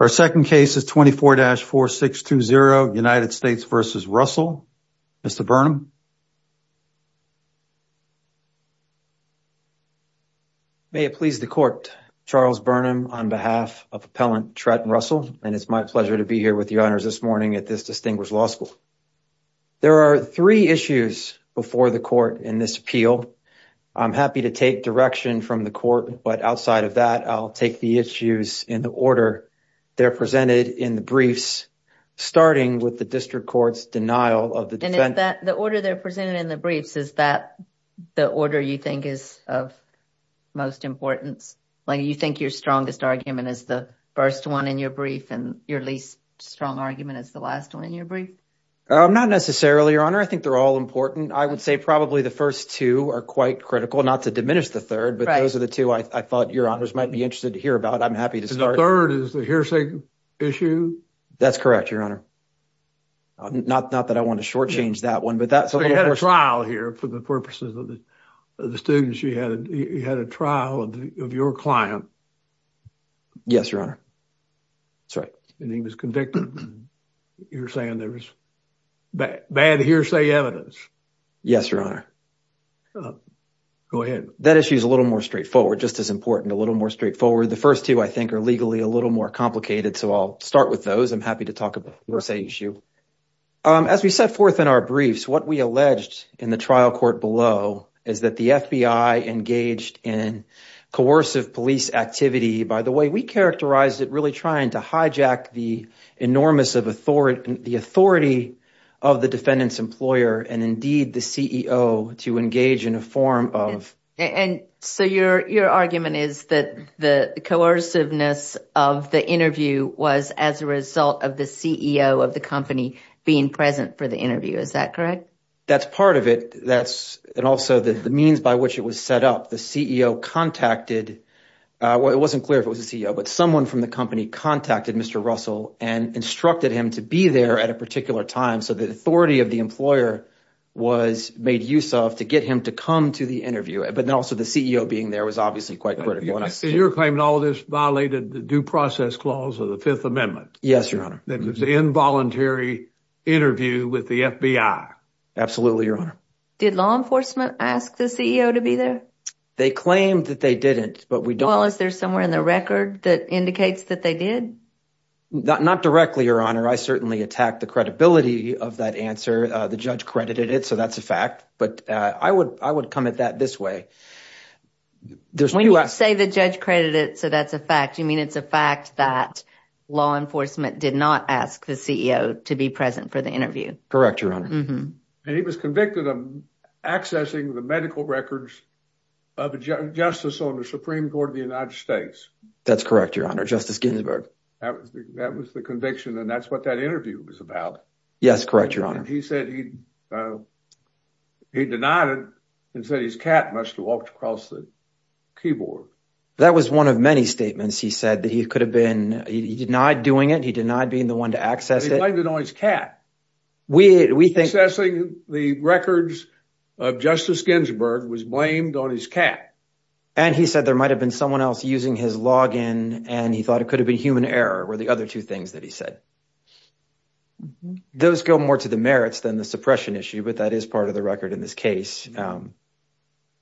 Our second case is 24-4620 United States v. Russell. Mr. Burnham. May it please the court. Charles Burnham on behalf of Appellant Trent Russell and it's my pleasure to be here with you, honors, this morning at this distinguished law school. There are three issues before the court in this appeal. I'm happy to take direction from the court, but outside of that, I'll take the issues in the order they're presented in the briefs, starting with the district court's denial of the defense. And is that the order they're presented in the briefs? Is that the order you think is of most importance? Like you think your strongest argument is the first one in your brief and your least strong argument is the last one in your brief? Not necessarily, your honor. I think they're all important. I would say probably the first two are quite critical, not to diminish the third, but those are the two I thought, your honors, might be interested to hear about. I'm happy to start. The third is the hearsay issue? That's correct, your honor. Not that I want to shortchange that one. But you had a trial here for the purposes of the students. You had a trial of your client. Yes, your honor. That's right. And he was convicted. You're saying there was bad hearsay evidence. Yes, your honor. Go ahead. That issue is a little more straightforward, just as important, a little more straightforward. The first two, I think, are legally a little more complicated. So I'll start with those. I'm happy to talk about the hearsay issue. As we set forth in our briefs, what we alleged in the trial court below is that the FBI engaged in coercive police activity. By the way, we characterized it really to hijack the enormous of the authority of the defendant's employer and indeed the CEO to engage in a form of. So your argument is that the coerciveness of the interview was as a result of the CEO of the company being present for the interview. Is that correct? That's part of it. That's also the means by which it was set up. The CEO contacted, it wasn't clear if it was a CEO, but someone from the company contacted Mr. Russell and instructed him to be there at a particular time. So the authority of the employer was made use of to get him to come to the interview. But then also the CEO being there was obviously quite critical. You're claiming all of this violated the due process clause of the Fifth Amendment. Yes, your honor. That was involuntary interview with the FBI. Absolutely, your honor. Did law enforcement ask the CEO to be there? They claimed that they didn't, but we don't- Well, is there somewhere in the record that indicates that they did? Not directly, your honor. I certainly attacked the credibility of that answer. The judge credited it, so that's a fact. But I would come at that this way. When you say the judge credited it, so that's a fact, you mean it's a fact that law enforcement did not ask the CEO to be present for the interview? Correct, your honor. And he was convicted of accessing the medical records of a justice on the Supreme Court of the United States. That's correct, your honor. Justice Ginsburg. That was the conviction, and that's what that interview was about. Yes, correct, your honor. He said he denied it and said his cat must have walked across the keyboard. That was one of many statements he said that he could have been... He denied doing it. He denied being the one to access it. He might have denied his cat. We think... Accessing the records of Justice Ginsburg was blamed on his cat. And he said there might have been someone else using his login, and he thought it could have been human error, were the other two things that he said. Those go more to the merits than the suppression issue, but that is part of the record in this case.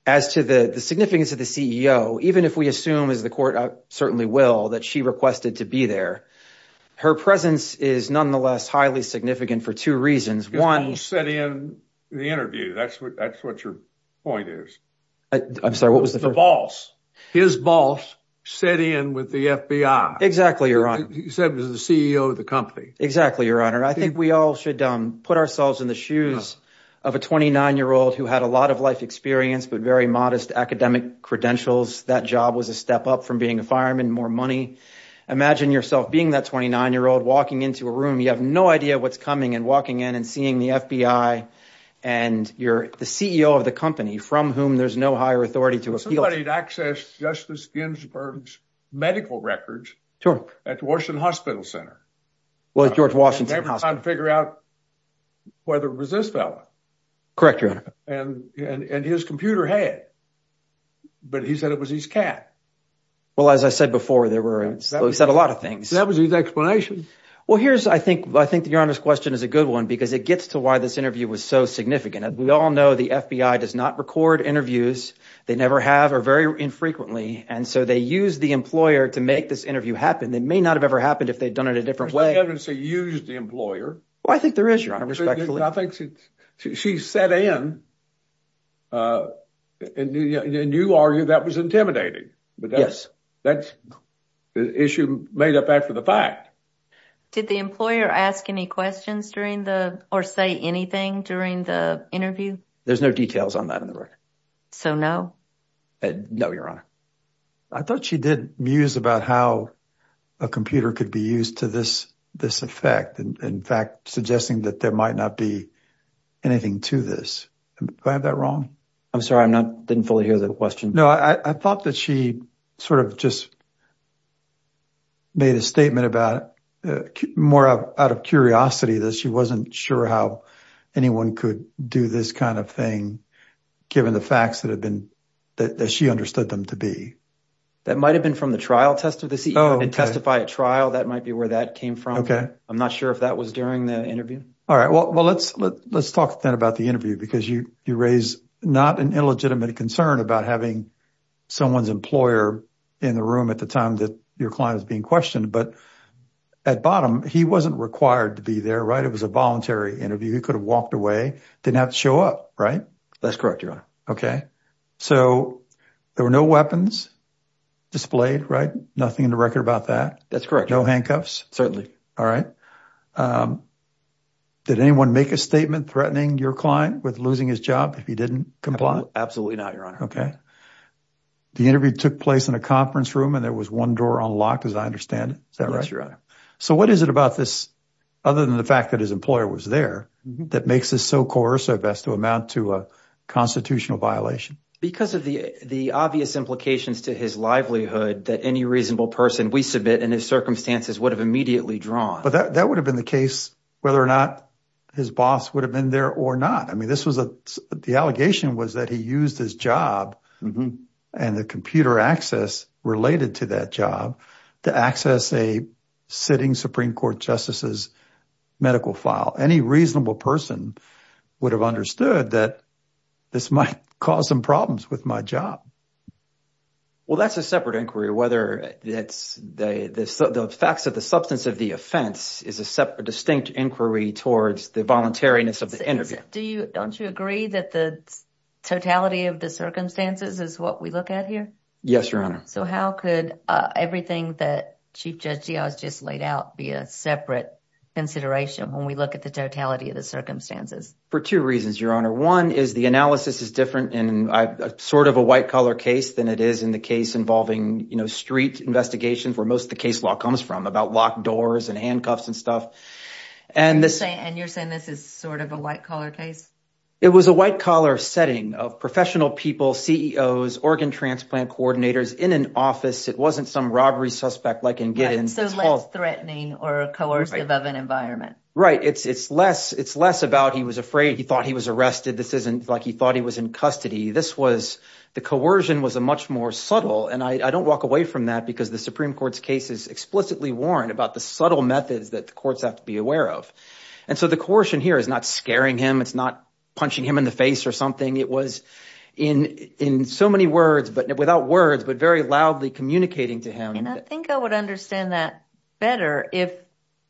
As to the significance of the CEO, even if we assume, as the court certainly will, that she requested to be there, her presence is nonetheless highly significant for two reasons. His boss sent in the interview. That's what your point is. I'm sorry, what was the first? The boss. His boss sent in with the FBI. Exactly, your honor. He said it was the CEO of the company. Exactly, your honor. I think we all should put ourselves in the shoes of a 29-year-old who had a lot of life experience, but very modest academic credentials. That job was a step up from being a fireman, more money. Imagine yourself being that 29-year-old, walking into a room, you have no idea what's coming, and walking in and seeing the FBI, and you're the CEO of the company from whom there's no higher authority to appeal. Somebody had accessed Justice Ginsburg's medical records at Washington Hospital Center. Well, at George Washington Hospital. Never time to figure out whether it was this fella. Correct, your honor. And his computer had, but he said it was his cat. Well, as I said before, there were a lot of things. That was his explanation. Well, here's, I think, your honor's question is a good one, because it gets to why this interview was so significant. We all know the FBI does not record interviews. They never have, or very infrequently. And so they use the employer to make this interview happen. They may not have ever happened if they'd done it a different way. There's no evidence they used the employer. Well, I think there is, your honor, respectfully. I think she sat in, and you argue that was intimidating. But yes, that's the issue made up after the fact. Did the employer ask any questions during the, or say anything during the interview? There's no details on that in the record. So no? No, your honor. I thought she did muse about how a computer could be used to this effect. In fact, suggesting that there might not be anything to this. Do I have that wrong? I'm sorry, I'm not, didn't fully hear the question. No, I thought that she sort of just made a statement about, more out of curiosity, that she wasn't sure how anyone could do this kind of thing, given the facts that have been, that she understood them to be. That might've been from the trial test of the CEO, and testify at trial, that might be where that came from. Okay. I'm not sure if that was during the interview. All right. Well, let's talk then about the interview, because you raise not an illegitimate concern about having someone's employer in the room at the time that your client was being questioned. But at bottom, he wasn't required to be there, right? It was a voluntary interview. He could have walked away, didn't have to show up, right? That's correct, your honor. Okay. So there were no weapons displayed, right? Nothing in the record about that? That's correct. No handcuffs? Certainly. All right. Did anyone make a statement threatening your client with losing his job if he didn't comply? Absolutely not, your honor. Okay. The interview took place in a conference room, and there was one door unlocked, as I understand it. Is that right? Yes, your honor. So what is it about this, other than the fact that his employer was there, that makes this so coercive as to amount to a constitutional violation? Because of the obvious implications to his livelihood, that any reasonable person we submit in his circumstances would have immediately drawn. But that would have been the case whether or not his boss would have been there or not. I mean, the allegation was that he used his job and the computer access related to that job to access a sitting Supreme Court justices medical file. Any reasonable person would have understood that this might cause some problems with my job. Well, that's a separate inquiry. Whether it's the facts of the substance of the offense is a distinct inquiry towards the voluntariness of the interview. Do you, don't you agree that the totality of the circumstances is what we look at here? Yes, your honor. So how could everything that Chief Judge Diaz just laid out be a separate consideration when we look at the totality of the circumstances? For two reasons, your honor. The analysis is different in sort of a white-collar case than it is in the case involving, you know, street investigations where most of the case law comes from about locked doors and handcuffs and stuff. And you're saying this is sort of a white-collar case? It was a white-collar setting of professional people, CEOs, organ transplant coordinators in an office. It wasn't some robbery suspect like in Giddens. So less threatening or coercive of an environment. Right. It's, it's less, it's less about he was afraid. He thought he was arrested. This isn't like he thought he was in custody. This was, the coercion was a much more subtle. And I don't walk away from that because the Supreme Court's case is explicitly warned about the subtle methods that the courts have to be aware of. And so the coercion here is not scaring him. It's not punching him in the face or something. It was in, in so many words, but without words, but very loudly communicating to him. I think I would understand that better if,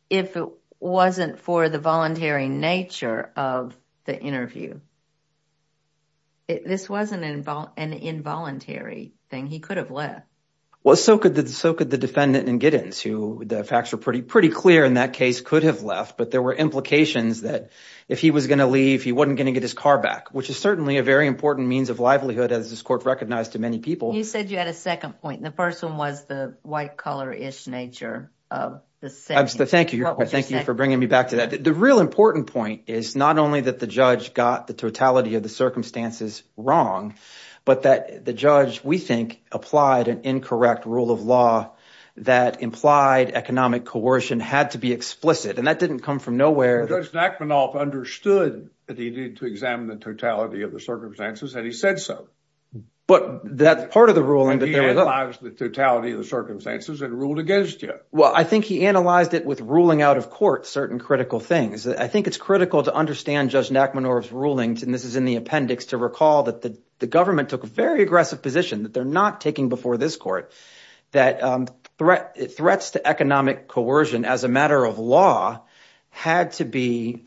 if it wasn't for the voluntary nature of the interview. This wasn't an involuntary thing. He could have left. Well, so could the, so could the defendant in Giddens who the facts were pretty, pretty clear in that case could have left, but there were implications that if he was going to leave, he wasn't going to get his car back, which is certainly a very important means of livelihood as this court recognized to many people. You said you had a second point. The first one was the white collar-ish nature of the sentence. Thank you. Thank you for bringing me back to that. The real important point is not only that the judge got the totality of the circumstances wrong, but that the judge, we think, applied an incorrect rule of law that implied economic coercion had to be explicit. And that didn't come from nowhere. Judge Nachmanoff understood that he needed to examine the totality of the circumstances and he said so. But that's part of the ruling. And he analyzed the totality of the circumstances and ruled against you. Well, I think he analyzed it with ruling out of court certain critical things. I think it's critical to understand Judge Nachmanoff's rulings, and this is in the appendix, to recall that the government took a very aggressive position that they're not taking before this court that threats to economic coercion as a matter of law had to be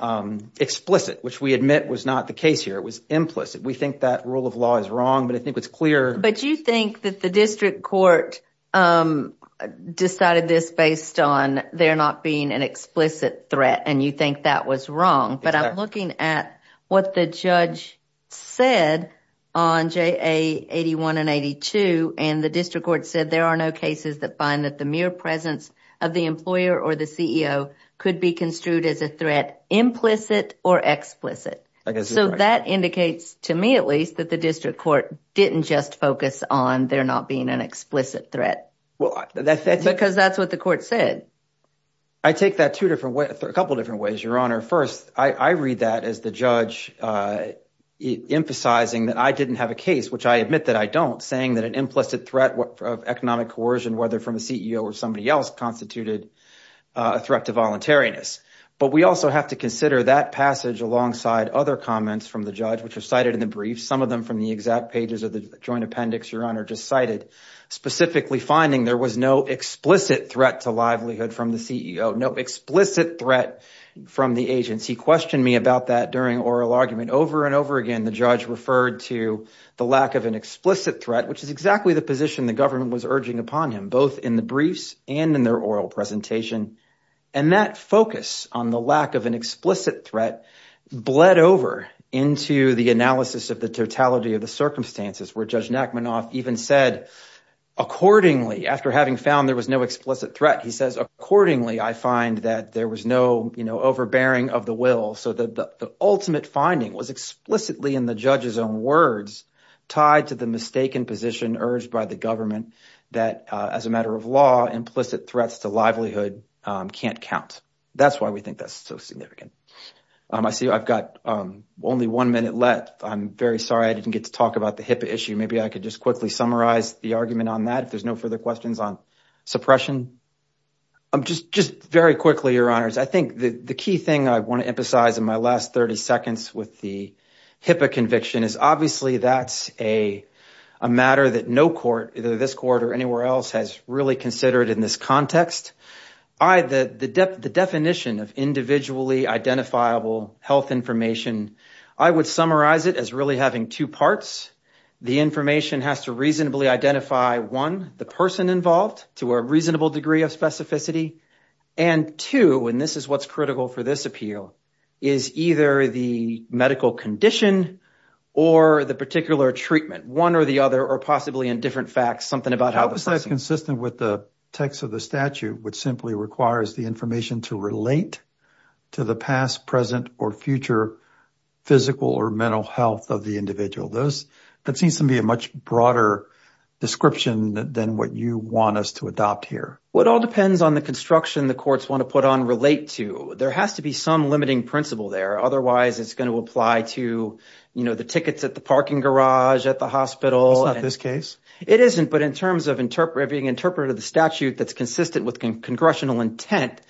explicit, which we admit was not the case here. It was implicit. We think that rule of law is wrong, but I think it's clear. But you think that the district court decided this based on there not being an explicit threat, and you think that was wrong. But I'm looking at what the judge said on JA 81 and 82, and the district court said there are no cases that find that the mere presence of the employer or the CEO could be construed as a threat, implicit or explicit. So that indicates, to me at least, that the district court didn't just focus on there not being an explicit threat, because that's what the court said. I take that a couple of different ways, Your Honor. First, I read that as the judge emphasizing that I didn't have a case, which I admit that I don't, saying that an implicit threat of economic coercion, whether from a CEO or somebody else, constituted a threat to voluntariness. But we also have to consider that passage alongside other comments from the judge, which are cited in the brief, some of them from the exact pages of the joint appendix Your Honor just cited, specifically finding there was no explicit threat to livelihood from the CEO, no explicit threat from the agency. Questioned me about that during oral argument. Over and over again, the judge referred to the lack of an explicit threat, which is exactly the position the government was urging upon him, both in the briefs and in their oral presentation. And that focus on the lack of an explicit threat bled over into the analysis of the totality of the circumstances where Judge Nachmanoff even said, accordingly, after having found there was no explicit threat, he says, accordingly, I find that there was no overbearing of the will. So the ultimate finding was explicitly in the judge's own words, tied to the mistaken position urged by the government that as a matter of law, implicit threats to livelihood can't count. That's why we think that's so significant. I see I've got only one minute left. I'm very sorry I didn't get to talk about the HIPAA issue. Maybe I could just quickly summarize the argument on that. If there's no further questions on suppression. Just very quickly, Your Honors, I think the key thing I want to emphasize in my last 30 seconds with the HIPAA conviction is obviously that's a matter that no court, either this court or anywhere else, has really considered in this context. The definition of individually identifiable health information, I would summarize it as really having two parts. The information has to reasonably identify, one, the person involved to a reasonable degree of specificity, and two, and this is what's critical for this appeal, is either the medical condition or the particular treatment, one or the other, or possibly in different facts, something about how the person- How is that consistent with the text of the statute, which simply requires the information to relate to the past, present, or future physical or mental health of the individual? That seems to me a much broader description than what you want us to adopt here. It all depends on the construction the courts want to put on relate to. There has to be some limiting principle there. Otherwise, it's going to apply to the tickets at the parking garage, at the hospital. It's not this case. It isn't, but in terms of being interpreted of the statute that's consistent with congressional intent,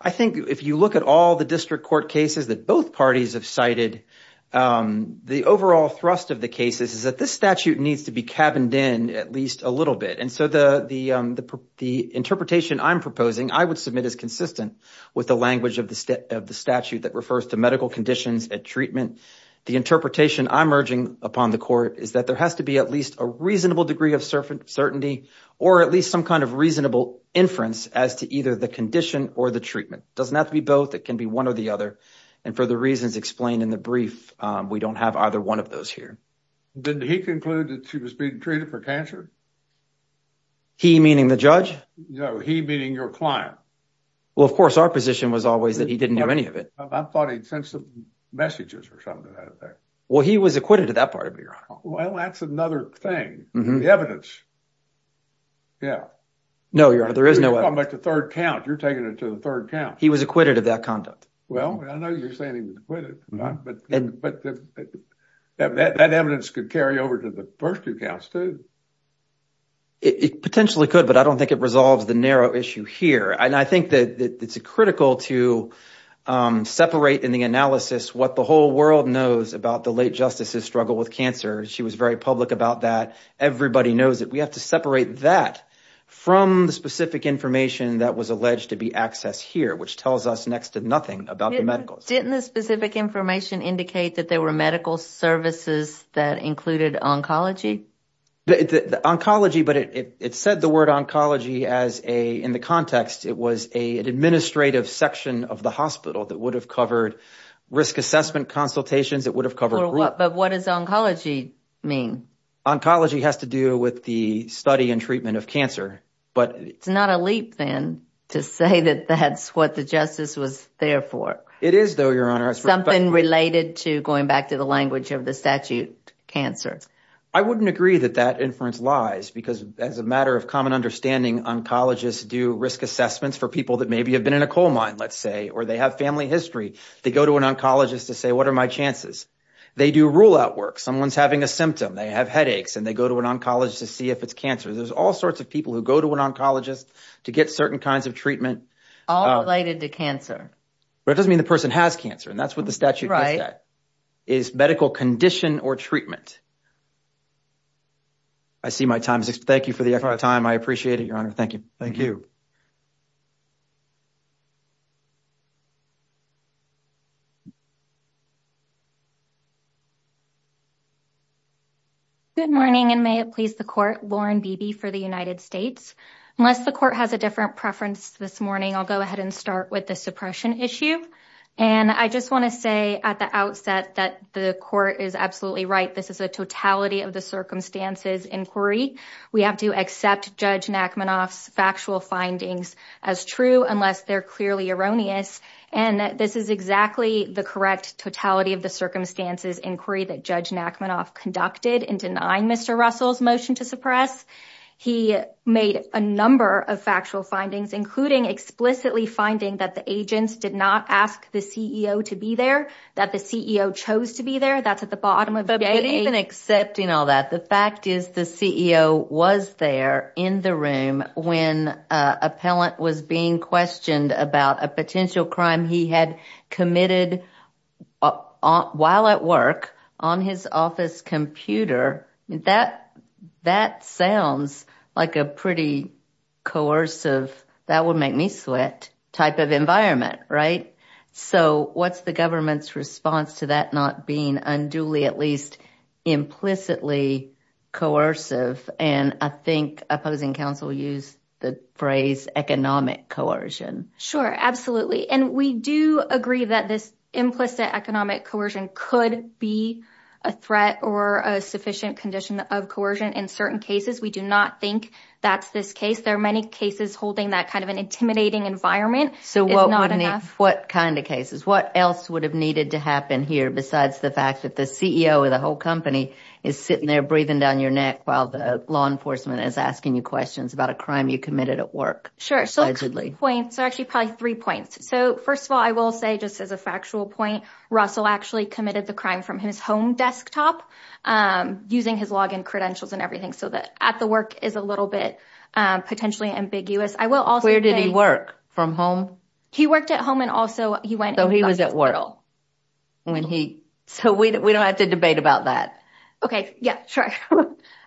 I think if you look at all the district court cases that both parties have cited, the overall thrust of the cases is that this statute needs to be cabined in at least a little bit, and so the interpretation I'm proposing I would submit is consistent with the language of the statute that refers to medical conditions and treatment. The interpretation I'm urging upon the court is that there has to be at least a reasonable degree of certainty or at least some kind of reasonable inference as to either the condition or the treatment. It doesn't have to be both. It can be one or the other, and for the reasons explained in the brief, we don't have either one of those here. Did he conclude that she was being treated for cancer? He, meaning the judge? No, he, meaning your client. Well, of course, our position was always that he didn't do any of it. I thought he'd sent some messages or something to that effect. Well, he was acquitted of that part of it, Your Honor. Well, that's another thing, the evidence. Yeah. No, Your Honor, there is no evidence. I'm talking about the third count. You're taking it to the third count. He was acquitted of that conduct. Well, I know you're saying he was acquitted, but that evidence could carry over to the first two counts, too. It potentially could, but I don't think it resolves the narrow issue here, and I think that it's critical to separate in the analysis what the whole world knows about the late justices' struggle with cancer. She was very public about that. Everybody knows it. We have to separate that from the specific information that was alleged to be accessed here, which tells us next to nothing about the medicals. Didn't the specific information indicate that there were medical services that included oncology? The oncology, but it said the word oncology in the context. It was an administrative section of the hospital that would have covered risk assessment consultations. It would have covered— But what does oncology mean? Oncology has to do with the study and treatment of cancer, but— It's not a leap, then, to say that that's what the justice was there for. It is, though, Your Honor. Something related to, going back to the language of the statute, cancer. I wouldn't agree that that inference lies, because as a matter of common understanding, oncologists do risk assessments for people that maybe have been in a coal mine, let's say, or they have family history. They go to an oncologist to say, what are my chances? They do rule-out work. Someone's having a symptom. They have headaches, and they go to an oncologist to see if it's cancer. There's all sorts of people who go to an oncologist to get certain kinds of treatment. All related to cancer. But it doesn't mean the person has cancer, and that's what the statute says. Is medical condition or treatment? I see my time's up. Thank you for the time. I appreciate it, Your Honor. Thank you. Thank you. Good morning, and may it please the Court. Lauren Beebe for the United States. Unless the Court has a different preference this morning, I'll go ahead and start with the suppression issue. And I just want to say at the outset that the Court is absolutely right. This is a totality-of-the-circumstances inquiry. We have to accept Judge Nachmanoff's factual findings as true, unless they're clearly erroneous. And this is exactly the correct totality-of-the-circumstances inquiry that Judge Nachmanoff conducted in denying Mr. Russell's motion to suppress. He made a number of factual findings, including explicitly finding that the agents did not ask the CEO to be there. That the CEO chose to be there. That's at the bottom of the— But even accepting all that, the fact is the CEO was there in the room when an appellant was being questioned about a potential crime he had committed while at work on his office computer. That sounds like a pretty coercive, that would make me sweat, type of environment, right? So what's the government's response to that not being unduly, at least implicitly, coercive? And I think opposing counsel used the phrase economic coercion. Sure, absolutely. And we do agree that this implicit economic coercion could be a threat or a sufficient condition of coercion in certain cases. We do not think that's this case. There are many cases holding that kind of an intimidating environment. So what kind of cases? What else would have needed to happen here besides the fact that the CEO of the whole company is sitting there breathing down your neck while the law enforcement is asking you questions about a crime you committed at work? Sure. So actually probably three points. So first of all, I will say just as a factual point, Russell actually committed the crime from his home desktop using his login credentials and everything. So that at the work is a little bit potentially ambiguous. I will also say- Where did he work? From home? He worked at home and also he went- So he was at work. So we don't have to debate about that. Okay. Yeah, sure.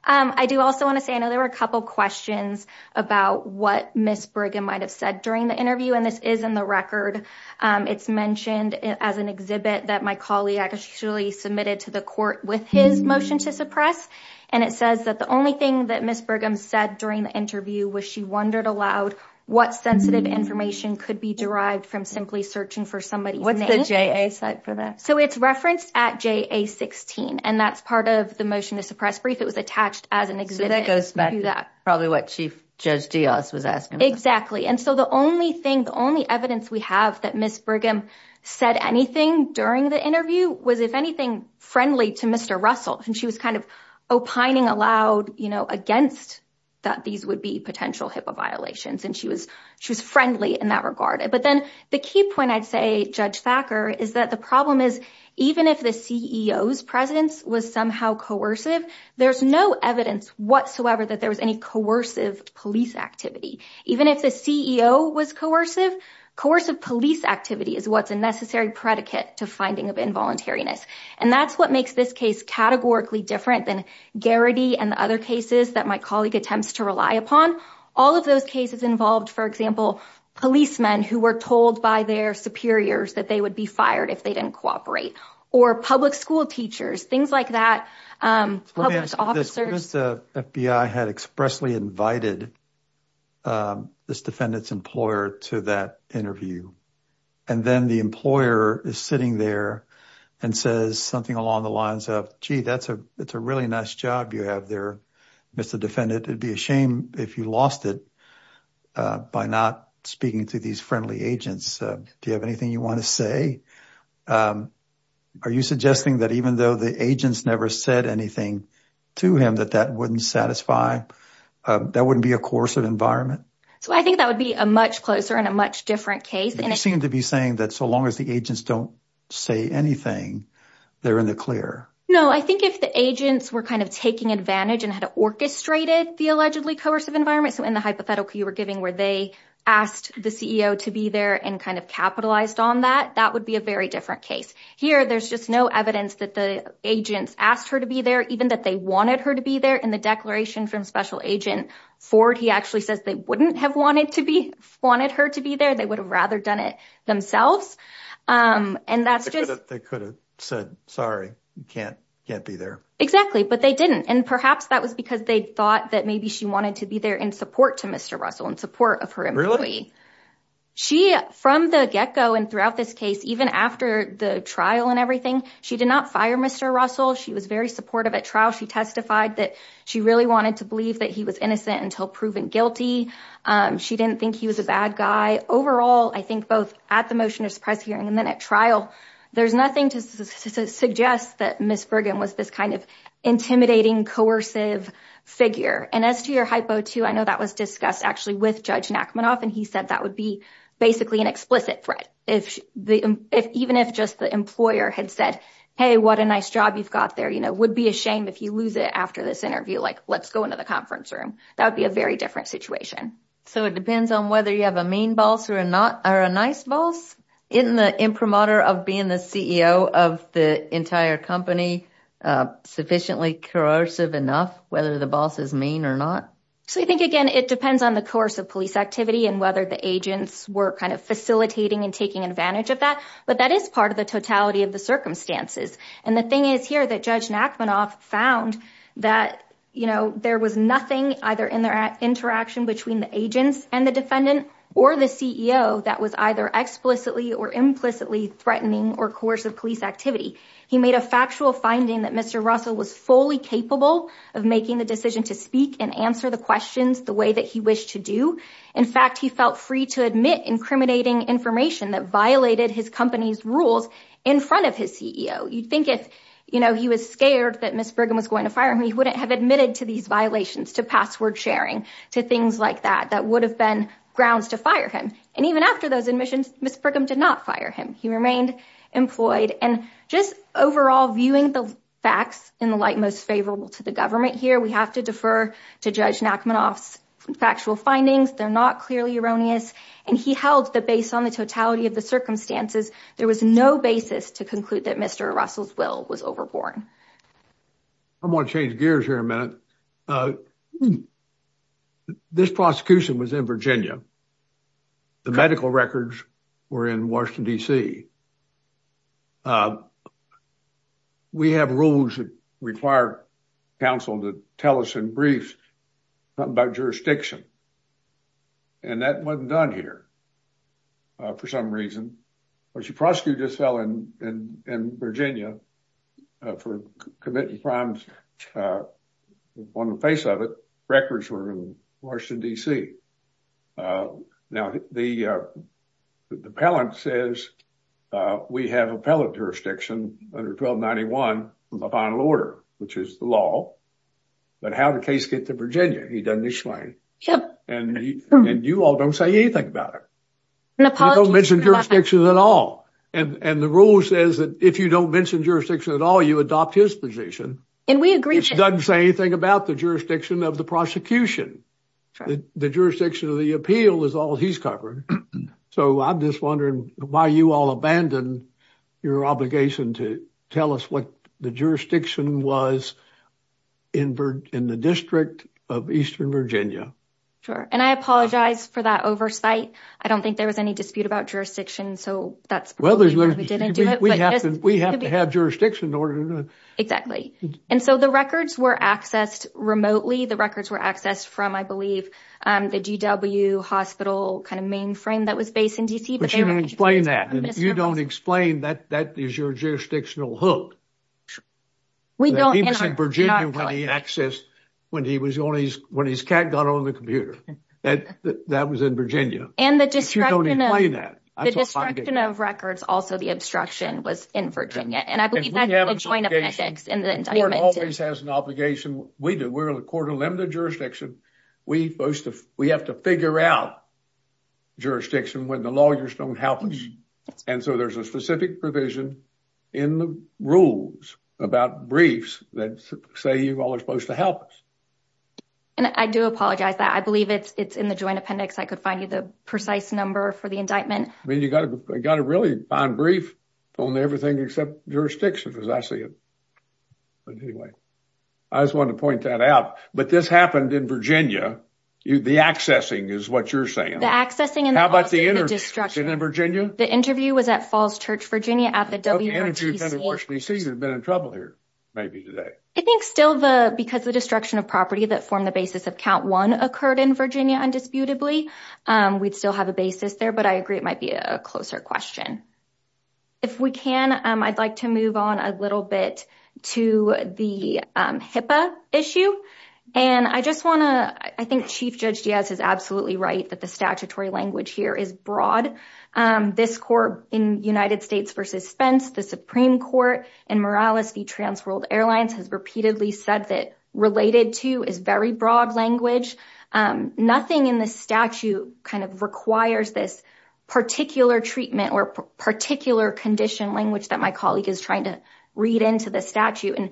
I do also want to say, I know there were a couple questions about what Ms. Brigham might have said during the interview, and this is in the record. It's mentioned as an exhibit that my colleague actually submitted to the court with his motion to suppress. And it says that the only thing that Ms. Brigham said during the interview was she wondered aloud what sensitive information could be derived from simply searching for somebody's name. What's the JA site for that? It's referenced at JA 16, and that's part of the motion to suppress brief. It was attached as an exhibit. So that goes back to probably what Chief Judge Diaz was asking. Exactly. And so the only thing, the only evidence we have that Ms. Brigham said anything during the interview was, if anything, friendly to Mr. Russell. And she was kind of opining aloud against that these would be potential HIPAA violations. And she was friendly in that regard. But then the key point I'd say, Judge Thacker, is that the problem is even if the CEO's presence was somehow coercive, there's no evidence whatsoever that there was any coercive police activity. Even if the CEO was coercive, coercive police activity is what's a necessary predicate to finding of involuntariness. And that's what makes this case categorically different than Garrity and the other cases that my colleague attempts to rely upon. All of those cases involved, for example, policemen who were told by their superiors that they would be fired if they didn't cooperate. Or public school teachers, things like that. Let me ask you this, because the FBI had expressly invited this defendant's employer to that interview. And then the employer is sitting there and says something along the lines of, gee, that's a really nice job you have there, Mr. Defendant. It'd be a shame if you lost it by not speaking to these friendly agents. Do you have anything you want to say? Are you suggesting that even though the agents never said anything to him that that wouldn't satisfy, that wouldn't be a coercive environment? So I think that would be a much closer and a much different case. You seem to be saying that so long as the agents don't say anything, they're in the clear. No, I think if the agents were kind of taking advantage and had orchestrated the allegedly coercive environment, so in the hypothetical you were giving where they asked the CEO to be there and kind of capitalized on that, that would be a very different case. Here, there's just no evidence that the agents asked her to be there, even that they wanted her to be there. In the declaration from Special Agent Ford, he actually says they wouldn't have wanted to be, wanted her to be there. They would have rather done it themselves. And that's just... They could have said, sorry, you can't be there. Exactly. But they didn't. And perhaps that was because they thought that maybe she wanted to be there in support to Mr. Russell, in support of her employee. She, from the get-go and throughout this case, even after the trial and everything, she did not fire Mr. Russell. She was very supportive at trial. She testified that she really wanted to believe that he was innocent until proven guilty. She didn't think he was a bad guy. Overall, I think both at the motion to suppress hearing and then at trial, there's nothing to suggest that Ms. Brigham was this kind of intimidating, coercive figure. And as to your hypo too, I know that was discussed actually with Judge Nachmanoff, and he said that would be basically an explicit threat. Even if just the employer had said, hey, what a nice job you've got there. Would be a shame if you lose it after this interview, like let's go into the conference room. That would be a very different situation. So it depends on whether you have a mean boss or a nice boss? Isn't the imprimatur of being the CEO of the entire company sufficiently coercive enough, whether the boss is mean or not? So I think, again, it depends on the course of police activity and whether the agents were kind of facilitating and taking advantage of that. But that is part of the totality of the circumstances. And the thing is here that Judge Nachmanoff found that there was nothing either in their agents and the defendant or the CEO that was either explicitly or implicitly threatening or coercive police activity. He made a factual finding that Mr. Russell was fully capable of making the decision to speak and answer the questions the way that he wished to do. In fact, he felt free to admit incriminating information that violated his company's rules in front of his CEO. You'd think if he was scared that Ms. Brigham was going to fire him, he wouldn't have admitted to these violations, to password sharing, to things like that, that would have been grounds to fire him. And even after those admissions, Ms. Brigham did not fire him. He remained employed. And just overall, viewing the facts in the light most favorable to the government here, we have to defer to Judge Nachmanoff's factual findings. They're not clearly erroneous. And he held that based on the totality of the circumstances, there was no basis to conclude that Mr. Russell's will was overborne. I'm going to change gears here a minute. This prosecution was in Virginia. The medical records were in Washington, D.C. We have rules that require counsel to tell us in briefs about jurisdiction. And that wasn't done here for some reason. But the prosecutor just fell in Virginia for committing crimes on the face of it. Records were in Washington, D.C. Now, the appellant says we have appellant jurisdiction under 1291 of the final order, which is the law. But how did the case get to Virginia? He doesn't explain. And you all don't say anything about it. I don't mention jurisdiction at all. And the rule says that if you don't mention jurisdiction at all, you adopt his position. And we agree. It doesn't say anything about the jurisdiction of the prosecution. The jurisdiction of the appeal is all he's covered. So I'm just wondering why you all abandoned your obligation to tell us what the jurisdiction was in the District of Eastern Virginia. Sure. And I apologize for that oversight. I don't think there was any dispute about jurisdiction. So that's why we didn't do it. We have to have jurisdiction in order to know. And so the records were accessed remotely. The records were accessed from, I believe, the GW hospital kind of mainframe that was based in D.C. But you don't explain that. You don't explain that. That is your jurisdictional hook. We don't. He was in Virginia when he accessed, when his cat got on the computer. That was in Virginia. And the destruction of records, also the obstruction was in Virginia. And I believe that's a joint appendix. And the court always has an obligation. We do. We're a court of limited jurisdiction. We have to figure out jurisdiction when the lawyers don't help us. And so there's a specific provision in the rules about briefs that say you all are supposed to help us. And I do apologize that. I believe it's in the joint appendix. I could find you the precise number for the indictment. I mean, you got to really find brief on everything except jurisdiction, because I see it. But anyway, I just wanted to point that out. But this happened in Virginia. The accessing is what you're saying. How about the destruction in Virginia? The interview was at Falls Church, Virginia at the WRTC. The interview was at the WRTC. You'd have been in trouble here maybe today. I think still, because the destruction of property that formed the basis of count one occurred in Virginia, indisputably. We'd still have a basis there, but I agree it might be a closer question. If we can, I'd like to move on a little bit to the HIPAA issue. And I just want to, I think Chief Judge Diaz is absolutely right that the statutory language here is broad. This court in United States versus Spence, the Supreme Court, and Morales v. Trans World nothing in the statute kind of requires this particular treatment or particular condition language that my colleague is trying to read into the statute. And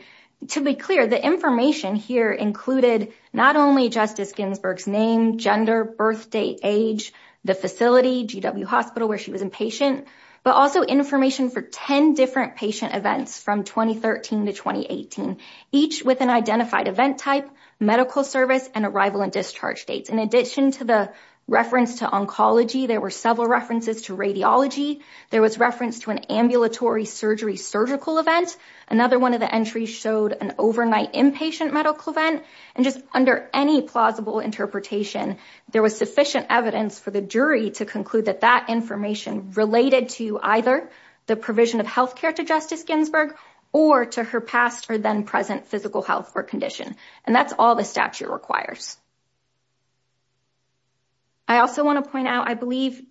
to be clear, the information here included not only Justice Ginsburg's name, gender, birth date, age, the facility, GW Hospital where she was inpatient, but also information for 10 different patient events from 2013 to 2018, each with an identified event type, medical service, and arrival and discharge dates. In addition to the reference to oncology, there were several references to radiology. There was reference to an ambulatory surgery surgical event. Another one of the entries showed an overnight inpatient medical event. And just under any plausible interpretation, there was sufficient evidence for the jury to conclude that that information related to either the provision of healthcare to Justice Ginsburg or to her past or then present physical health or condition. And that's all the statute requires. I also want to point out, I believe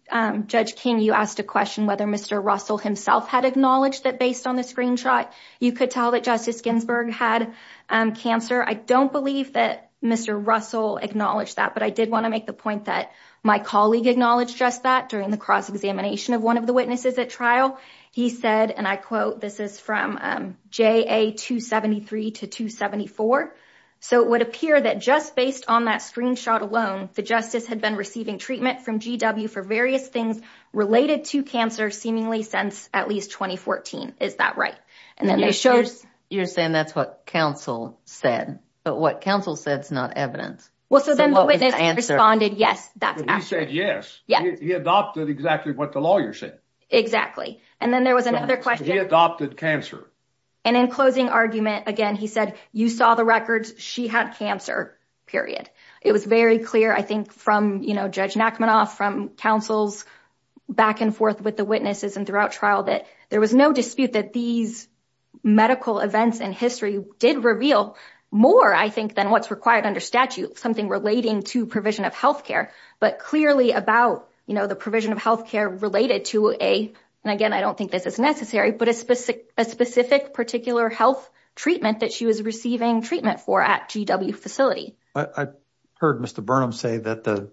Judge King, you asked a question whether Mr. Russell himself had acknowledged that based on the screenshot, you could tell that Justice Ginsburg had cancer. I don't believe that Mr. Russell acknowledged that, but I did want to make the point that my colleague acknowledged just that during the cross-examination of one of the witnesses at trial. He said, and I quote, this is from JA 273 to 274. So it would appear that just based on that screenshot alone, the justice had been receiving treatment from GW for various things related to cancer seemingly since at least 2014. Is that right? And then it shows- You're saying that's what counsel said, but what counsel said is not evidence. Well, so then the witness responded, yes, that's accurate. He said yes. He adopted exactly what the lawyer said. Exactly. And then there was another question- He adopted cancer. And in closing argument, again, he said, you saw the records. She had cancer, period. It was very clear, I think, from Judge Nachmanoff, from counsel's back and forth with the witnesses and throughout trial that there was no dispute that these medical events in history did reveal more, I think, than what's required under statute, something relating to provision of but clearly about the provision of healthcare related to a, and again, I don't think this is necessary, but a specific particular health treatment that she was receiving treatment for at GW facility. I heard Mr. Burnham say that the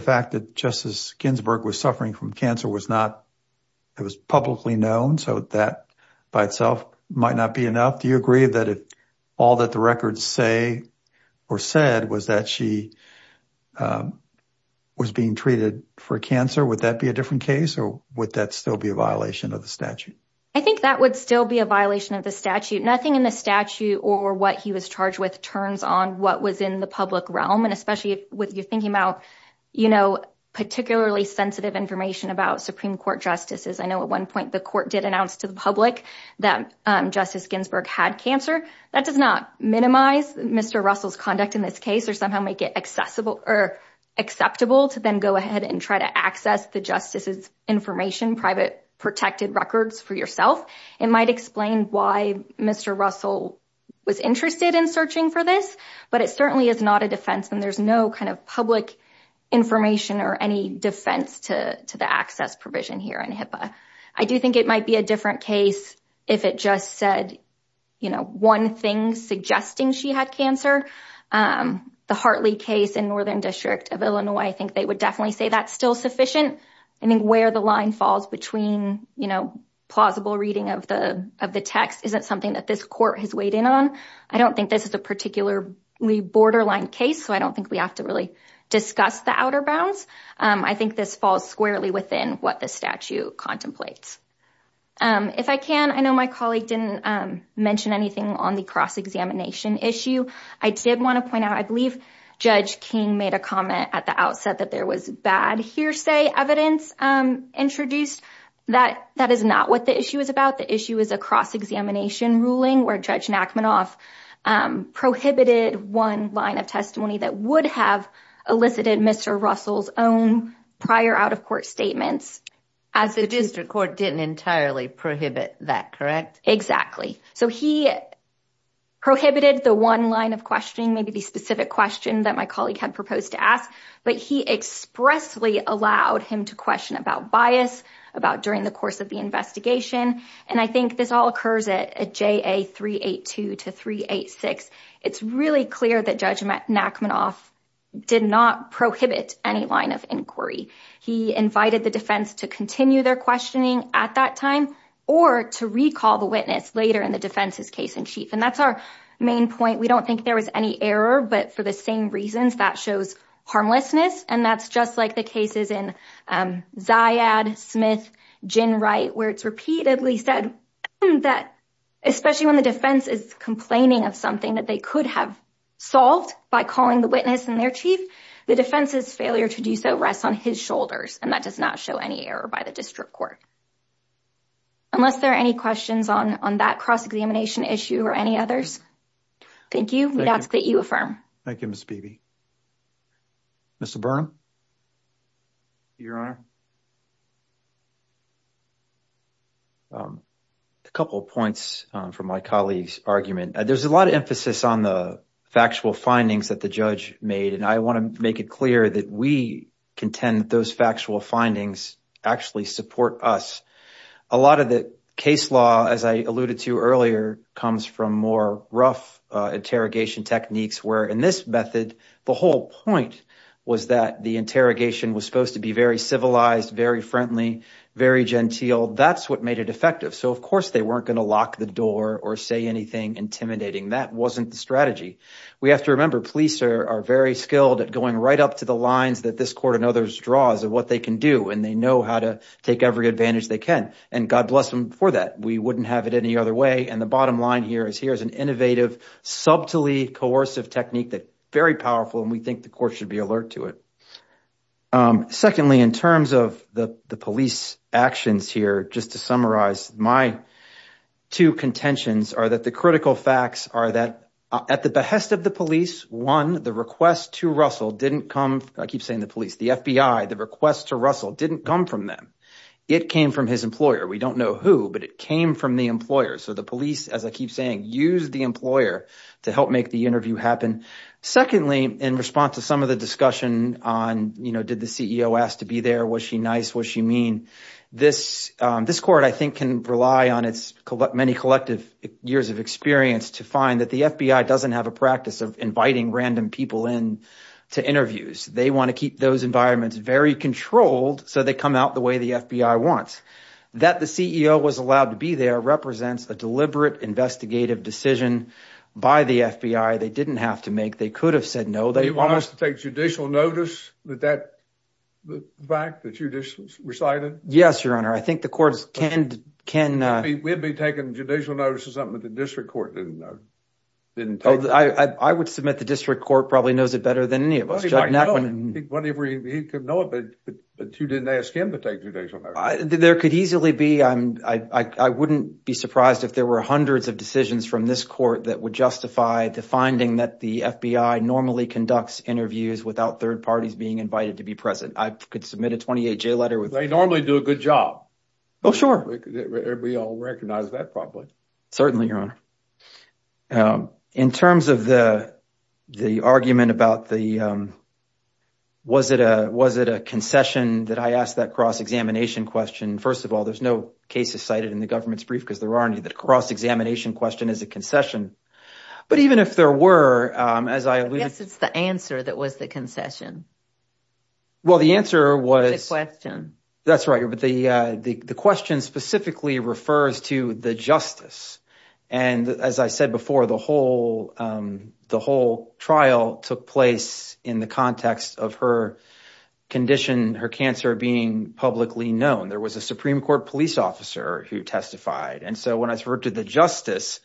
fact that Justice Ginsburg was suffering from cancer it was publicly known, so that by itself might not be enough. Do you agree that all that the records say or said was that she was being treated for cancer? Would that be a different case or would that still be a violation of the statute? I think that would still be a violation of the statute. Nothing in the statute or what he was charged with turns on what was in the public realm, and especially if you're thinking about particularly sensitive information about Supreme Court justices. I know at one point the court did announce to the public that Justice Ginsburg had cancer. That does not minimize Mr. Russell's conduct in this case or somehow make it accessible or acceptable to then go ahead and try to access the justice's information, private protected records for yourself. It might explain why Mr. Russell was interested in searching for this, but it certainly is not a defense and there's no kind of public information or any defense to the access provision here in HIPAA. I do think it might be a different case if it just said, you know, one thing suggesting she had cancer. The Hartley case in Northern District of Illinois, I think they would definitely say that's still sufficient. I think where the line falls between, you know, plausible reading of the text isn't something that this court has weighed in on. I don't think this is a particularly borderline case, so I don't think we have to really discuss the outer bounds. I think this falls squarely within what the statute contemplates. If I can, I know my colleague didn't mention anything on the cross-examination issue. I did want to point out, I believe Judge King made a comment at the outset that there was bad hearsay evidence introduced. That is not what the issue is about. The issue is a cross-examination ruling where Judge Nachmanoff prohibited one line of testimony that would have elicited Mr. Russell's own prior out-of-court statements. As the district court didn't entirely prohibit that, correct? Exactly. So he prohibited the one line of questioning, maybe the specific question that my colleague had proposed to ask, but he expressly allowed him to question about bias, about during the course of the investigation, and I think this all occurs at JA 382 to 386. It's really clear that Judge Nachmanoff did not prohibit any line of inquiry. He invited the defense to continue their questioning at that time or to recall the witness later in the defense's case-in-chief, and that's our main point. We don't think there was any error, but for the same reasons, that shows harmlessness, and that's just like the cases in Zayad, Smith, Ginwright, where it's repeatedly said that, especially when the defense is complaining of something that they could have solved by calling the witness-in-their-chief, the defense's failure to do so rests on his shoulders, and that does not show any error by the district court. Unless there are any questions on that cross-examination issue or any others, thank you. We'd ask that you affirm. Thank you, Ms. Beebe. Mr. Burnham? Your Honor? A couple of points from my colleague's argument. There's a lot of emphasis on the factual findings that the judge made, and I want to make it clear that we contend that those factual findings actually support us. A lot of the case law, as I alluded to earlier, comes from more rough interrogation techniques, where in this method, the whole point was that the interrogation was supposed to be very civilized, very friendly, very genteel. That's what made it effective. Of course, they weren't going to lock the door or say anything intimidating. That wasn't the strategy. We have to remember, police are very skilled at going right up to the lines that this court and others draw as to what they can do, and they know how to take every advantage they can. God bless them for that. We wouldn't have it any other way. The bottom line here is here's an innovative, subtly coercive technique that's very powerful, and we think the court should be alert to it. Secondly, in terms of the police actions here, just to summarize, my two contentions are that the critical facts are that at the behest of the police, one, the request to Russell didn't come, I keep saying the police, the FBI, the request to Russell didn't come from them. It came from his employer. We don't know who, but it came from the employer. So the police, as I keep saying, used the employer to help make the interview happen. Secondly, in response to some of the discussion on did the CEO ask to be there, was she nice, what she mean, this court, I think, can rely on its many collective years of experience to find that the FBI doesn't have a practice of inviting random people in to interviews. They want to keep those environments very controlled so they come out the way the FBI wants. That the CEO was allowed to be there represents a deliberate investigative decision by the FBI. They didn't have to make. They could have said no. They want us to take judicial notice that that fact that you just recited? Yes, your honor. I think the courts can. We'd be taking judicial notice of something that the district court didn't know. I would submit the district court probably knows it better than any of us. Well, he might know it, but you didn't ask him to take judicial notice. There could easily be. I wouldn't be surprised if there were hundreds of decisions from this court that would justify finding that the FBI normally conducts interviews without third parties being invited to be present. I could submit a 28 J letter with. They normally do a good job. Oh, sure. We all recognize that probably. Certainly, your honor. In terms of the argument about the. Was it a was it a concession that I asked that cross examination question? First of all, there's no cases cited in the government's brief because there aren't any that cross examination question is a concession. But even if there were, as I guess it's the answer that was the concession. Well, the answer was a question. That's right. But the the question specifically refers to the justice. And as I said before, the whole the whole trial took place in the context of her condition, her cancer being publicly known. There was a Supreme Court police officer who testified. And so when I referred to the justice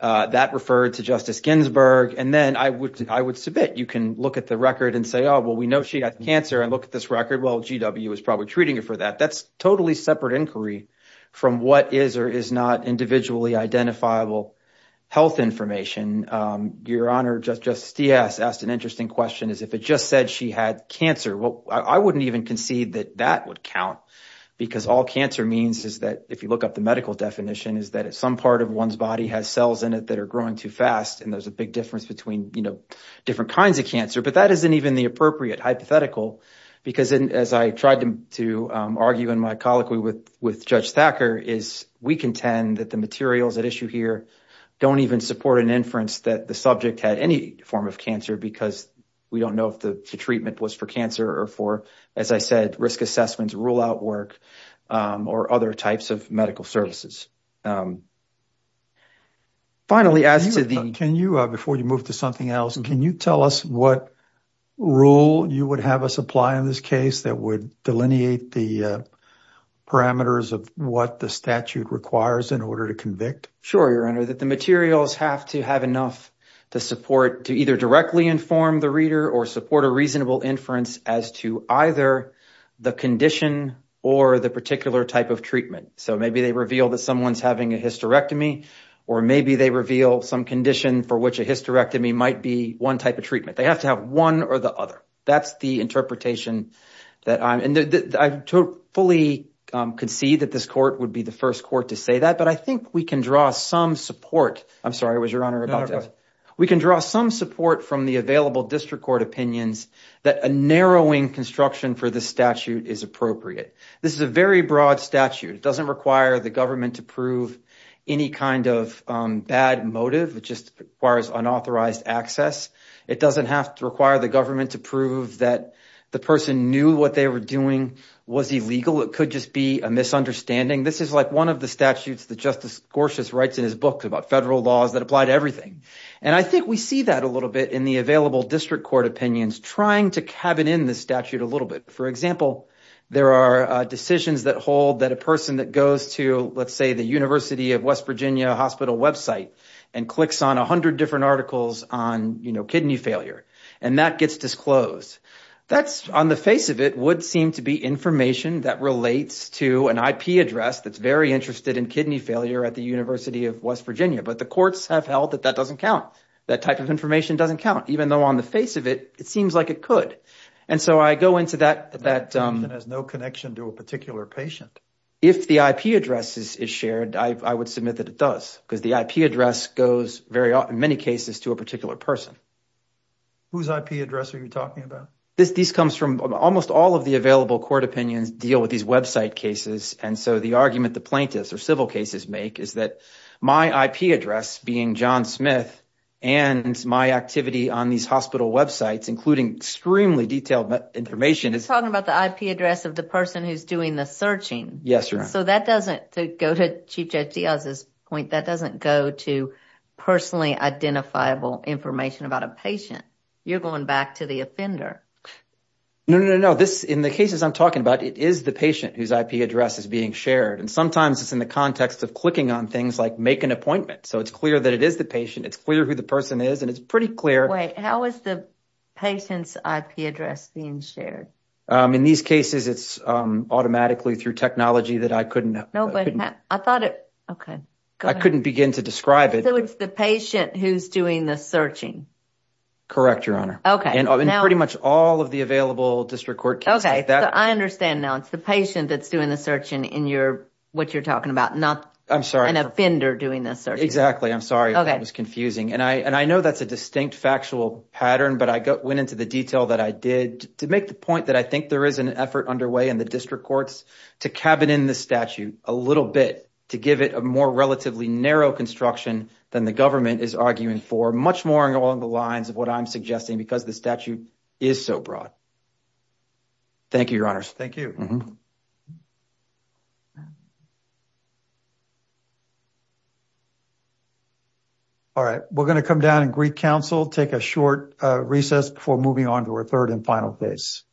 that referred to Justice Ginsburg. And then I would I would submit you can look at the record and say, oh, well, we know she got cancer and look at this record. Well, GW is probably treating it for that. That's totally separate inquiry from what is or is not individually identifiable health information. Your honor, just just asked an interesting question is if it just said she had cancer. Well, I wouldn't even concede that that would count because all cancer means is that if you look up the medical definition, is that some part of one's body has cells in it that are growing too fast. And there's a big difference between, you know, different kinds of cancer. But that isn't even the appropriate hypothetical, because as I tried to argue in my colloquy with with Judge Thacker is we contend that the materials at issue here don't even support an inference that the subject had any form of cancer because we don't know if the treatment was for cancer or for, as I said, risk assessments, rule out work or other types of medical services. Finally, as to the can you before you move to something else, can you tell us what rule you would have us apply in this case that would delineate the parameters of what the statute requires in order to convict? Sure, your honor, that the materials have to have enough to support to either directly inform the reader or support a reasonable inference as to either the condition or the particular type of treatment. So maybe they reveal that someone's having a hysterectomy or maybe they reveal some condition for which a hysterectomy might be one type of treatment. They have to have one or the other. That's the interpretation that I fully concede that this court would be the first court to say that. But I think we can draw some support. I'm sorry, it was your honor. We can draw some support from the available district court opinions that a narrowing construction for the statute is appropriate. This is a very broad statute. It doesn't require the government to prove any kind of bad motive. It just requires unauthorized access. It doesn't have to require the government to prove that the person knew what they were doing was illegal. It could just be a misunderstanding. This is like one of the statutes that Justice Gorsuch writes in his book about federal laws that apply to everything. And I think we see that a little bit in the available district court opinions trying to cabin in the statute a little bit. For example, there are decisions that hold that a person that goes to, let's say, the University of West Virginia hospital website and clicks on 100 different articles on kidney failure and that gets disclosed. That, on the face of it, would seem to be information that relates to an IP address that's very interested in kidney failure at the University of West Virginia. But the courts have held that that doesn't count. That type of information doesn't count, even though on the face of it, it seems like it could. And so I go into that. That has no connection to a particular patient. If the IP address is shared, I would submit that it does, because the IP address goes very often, in many cases, to a particular person. Whose IP address are you talking about? This comes from almost all of the available court opinions deal with these website cases. And so the argument the plaintiffs or civil cases make is that my IP address, being John Smith, and my activity on these hospital websites, including extremely detailed information is talking about the IP address of the person who's doing the searching. Yes, sir. So that doesn't go to Chief Judge Diaz's point. That doesn't go to personally identifiable information about a patient. You're going back to the offender. No, no, no, no. This, in the cases I'm talking about, it is the patient whose IP address is being shared. And sometimes it's in the context of clicking on things like make an appointment. So it's clear that it is the patient. It's clear who the person is. And it's pretty clear. Wait, how is the patient's IP address being shared? In these cases, it's automatically through technology that I couldn't have. No, but I thought it, okay. I couldn't begin to describe it. So it's the patient who's doing the searching. Correct, Your Honor. Okay. And pretty much all of the available district court cases. Okay, so I understand now. It's the patient that's doing the searching in your, what you're talking about. Not an offender doing the searching. Exactly. I'm sorry if that was confusing. And I know that's a distinct factual pattern, but I went into the detail that I did to make the point that I think there is an effort underway in the district courts to cabin in the statute a little bit to give it a more relatively narrow construction than the government is arguing for. Much more along the lines of what I'm suggesting because the statute is so broad. Thank you, Your Honors. Thank you. All right, we're going to come down and greet counsel. Take a short recess before moving on to our third and final case.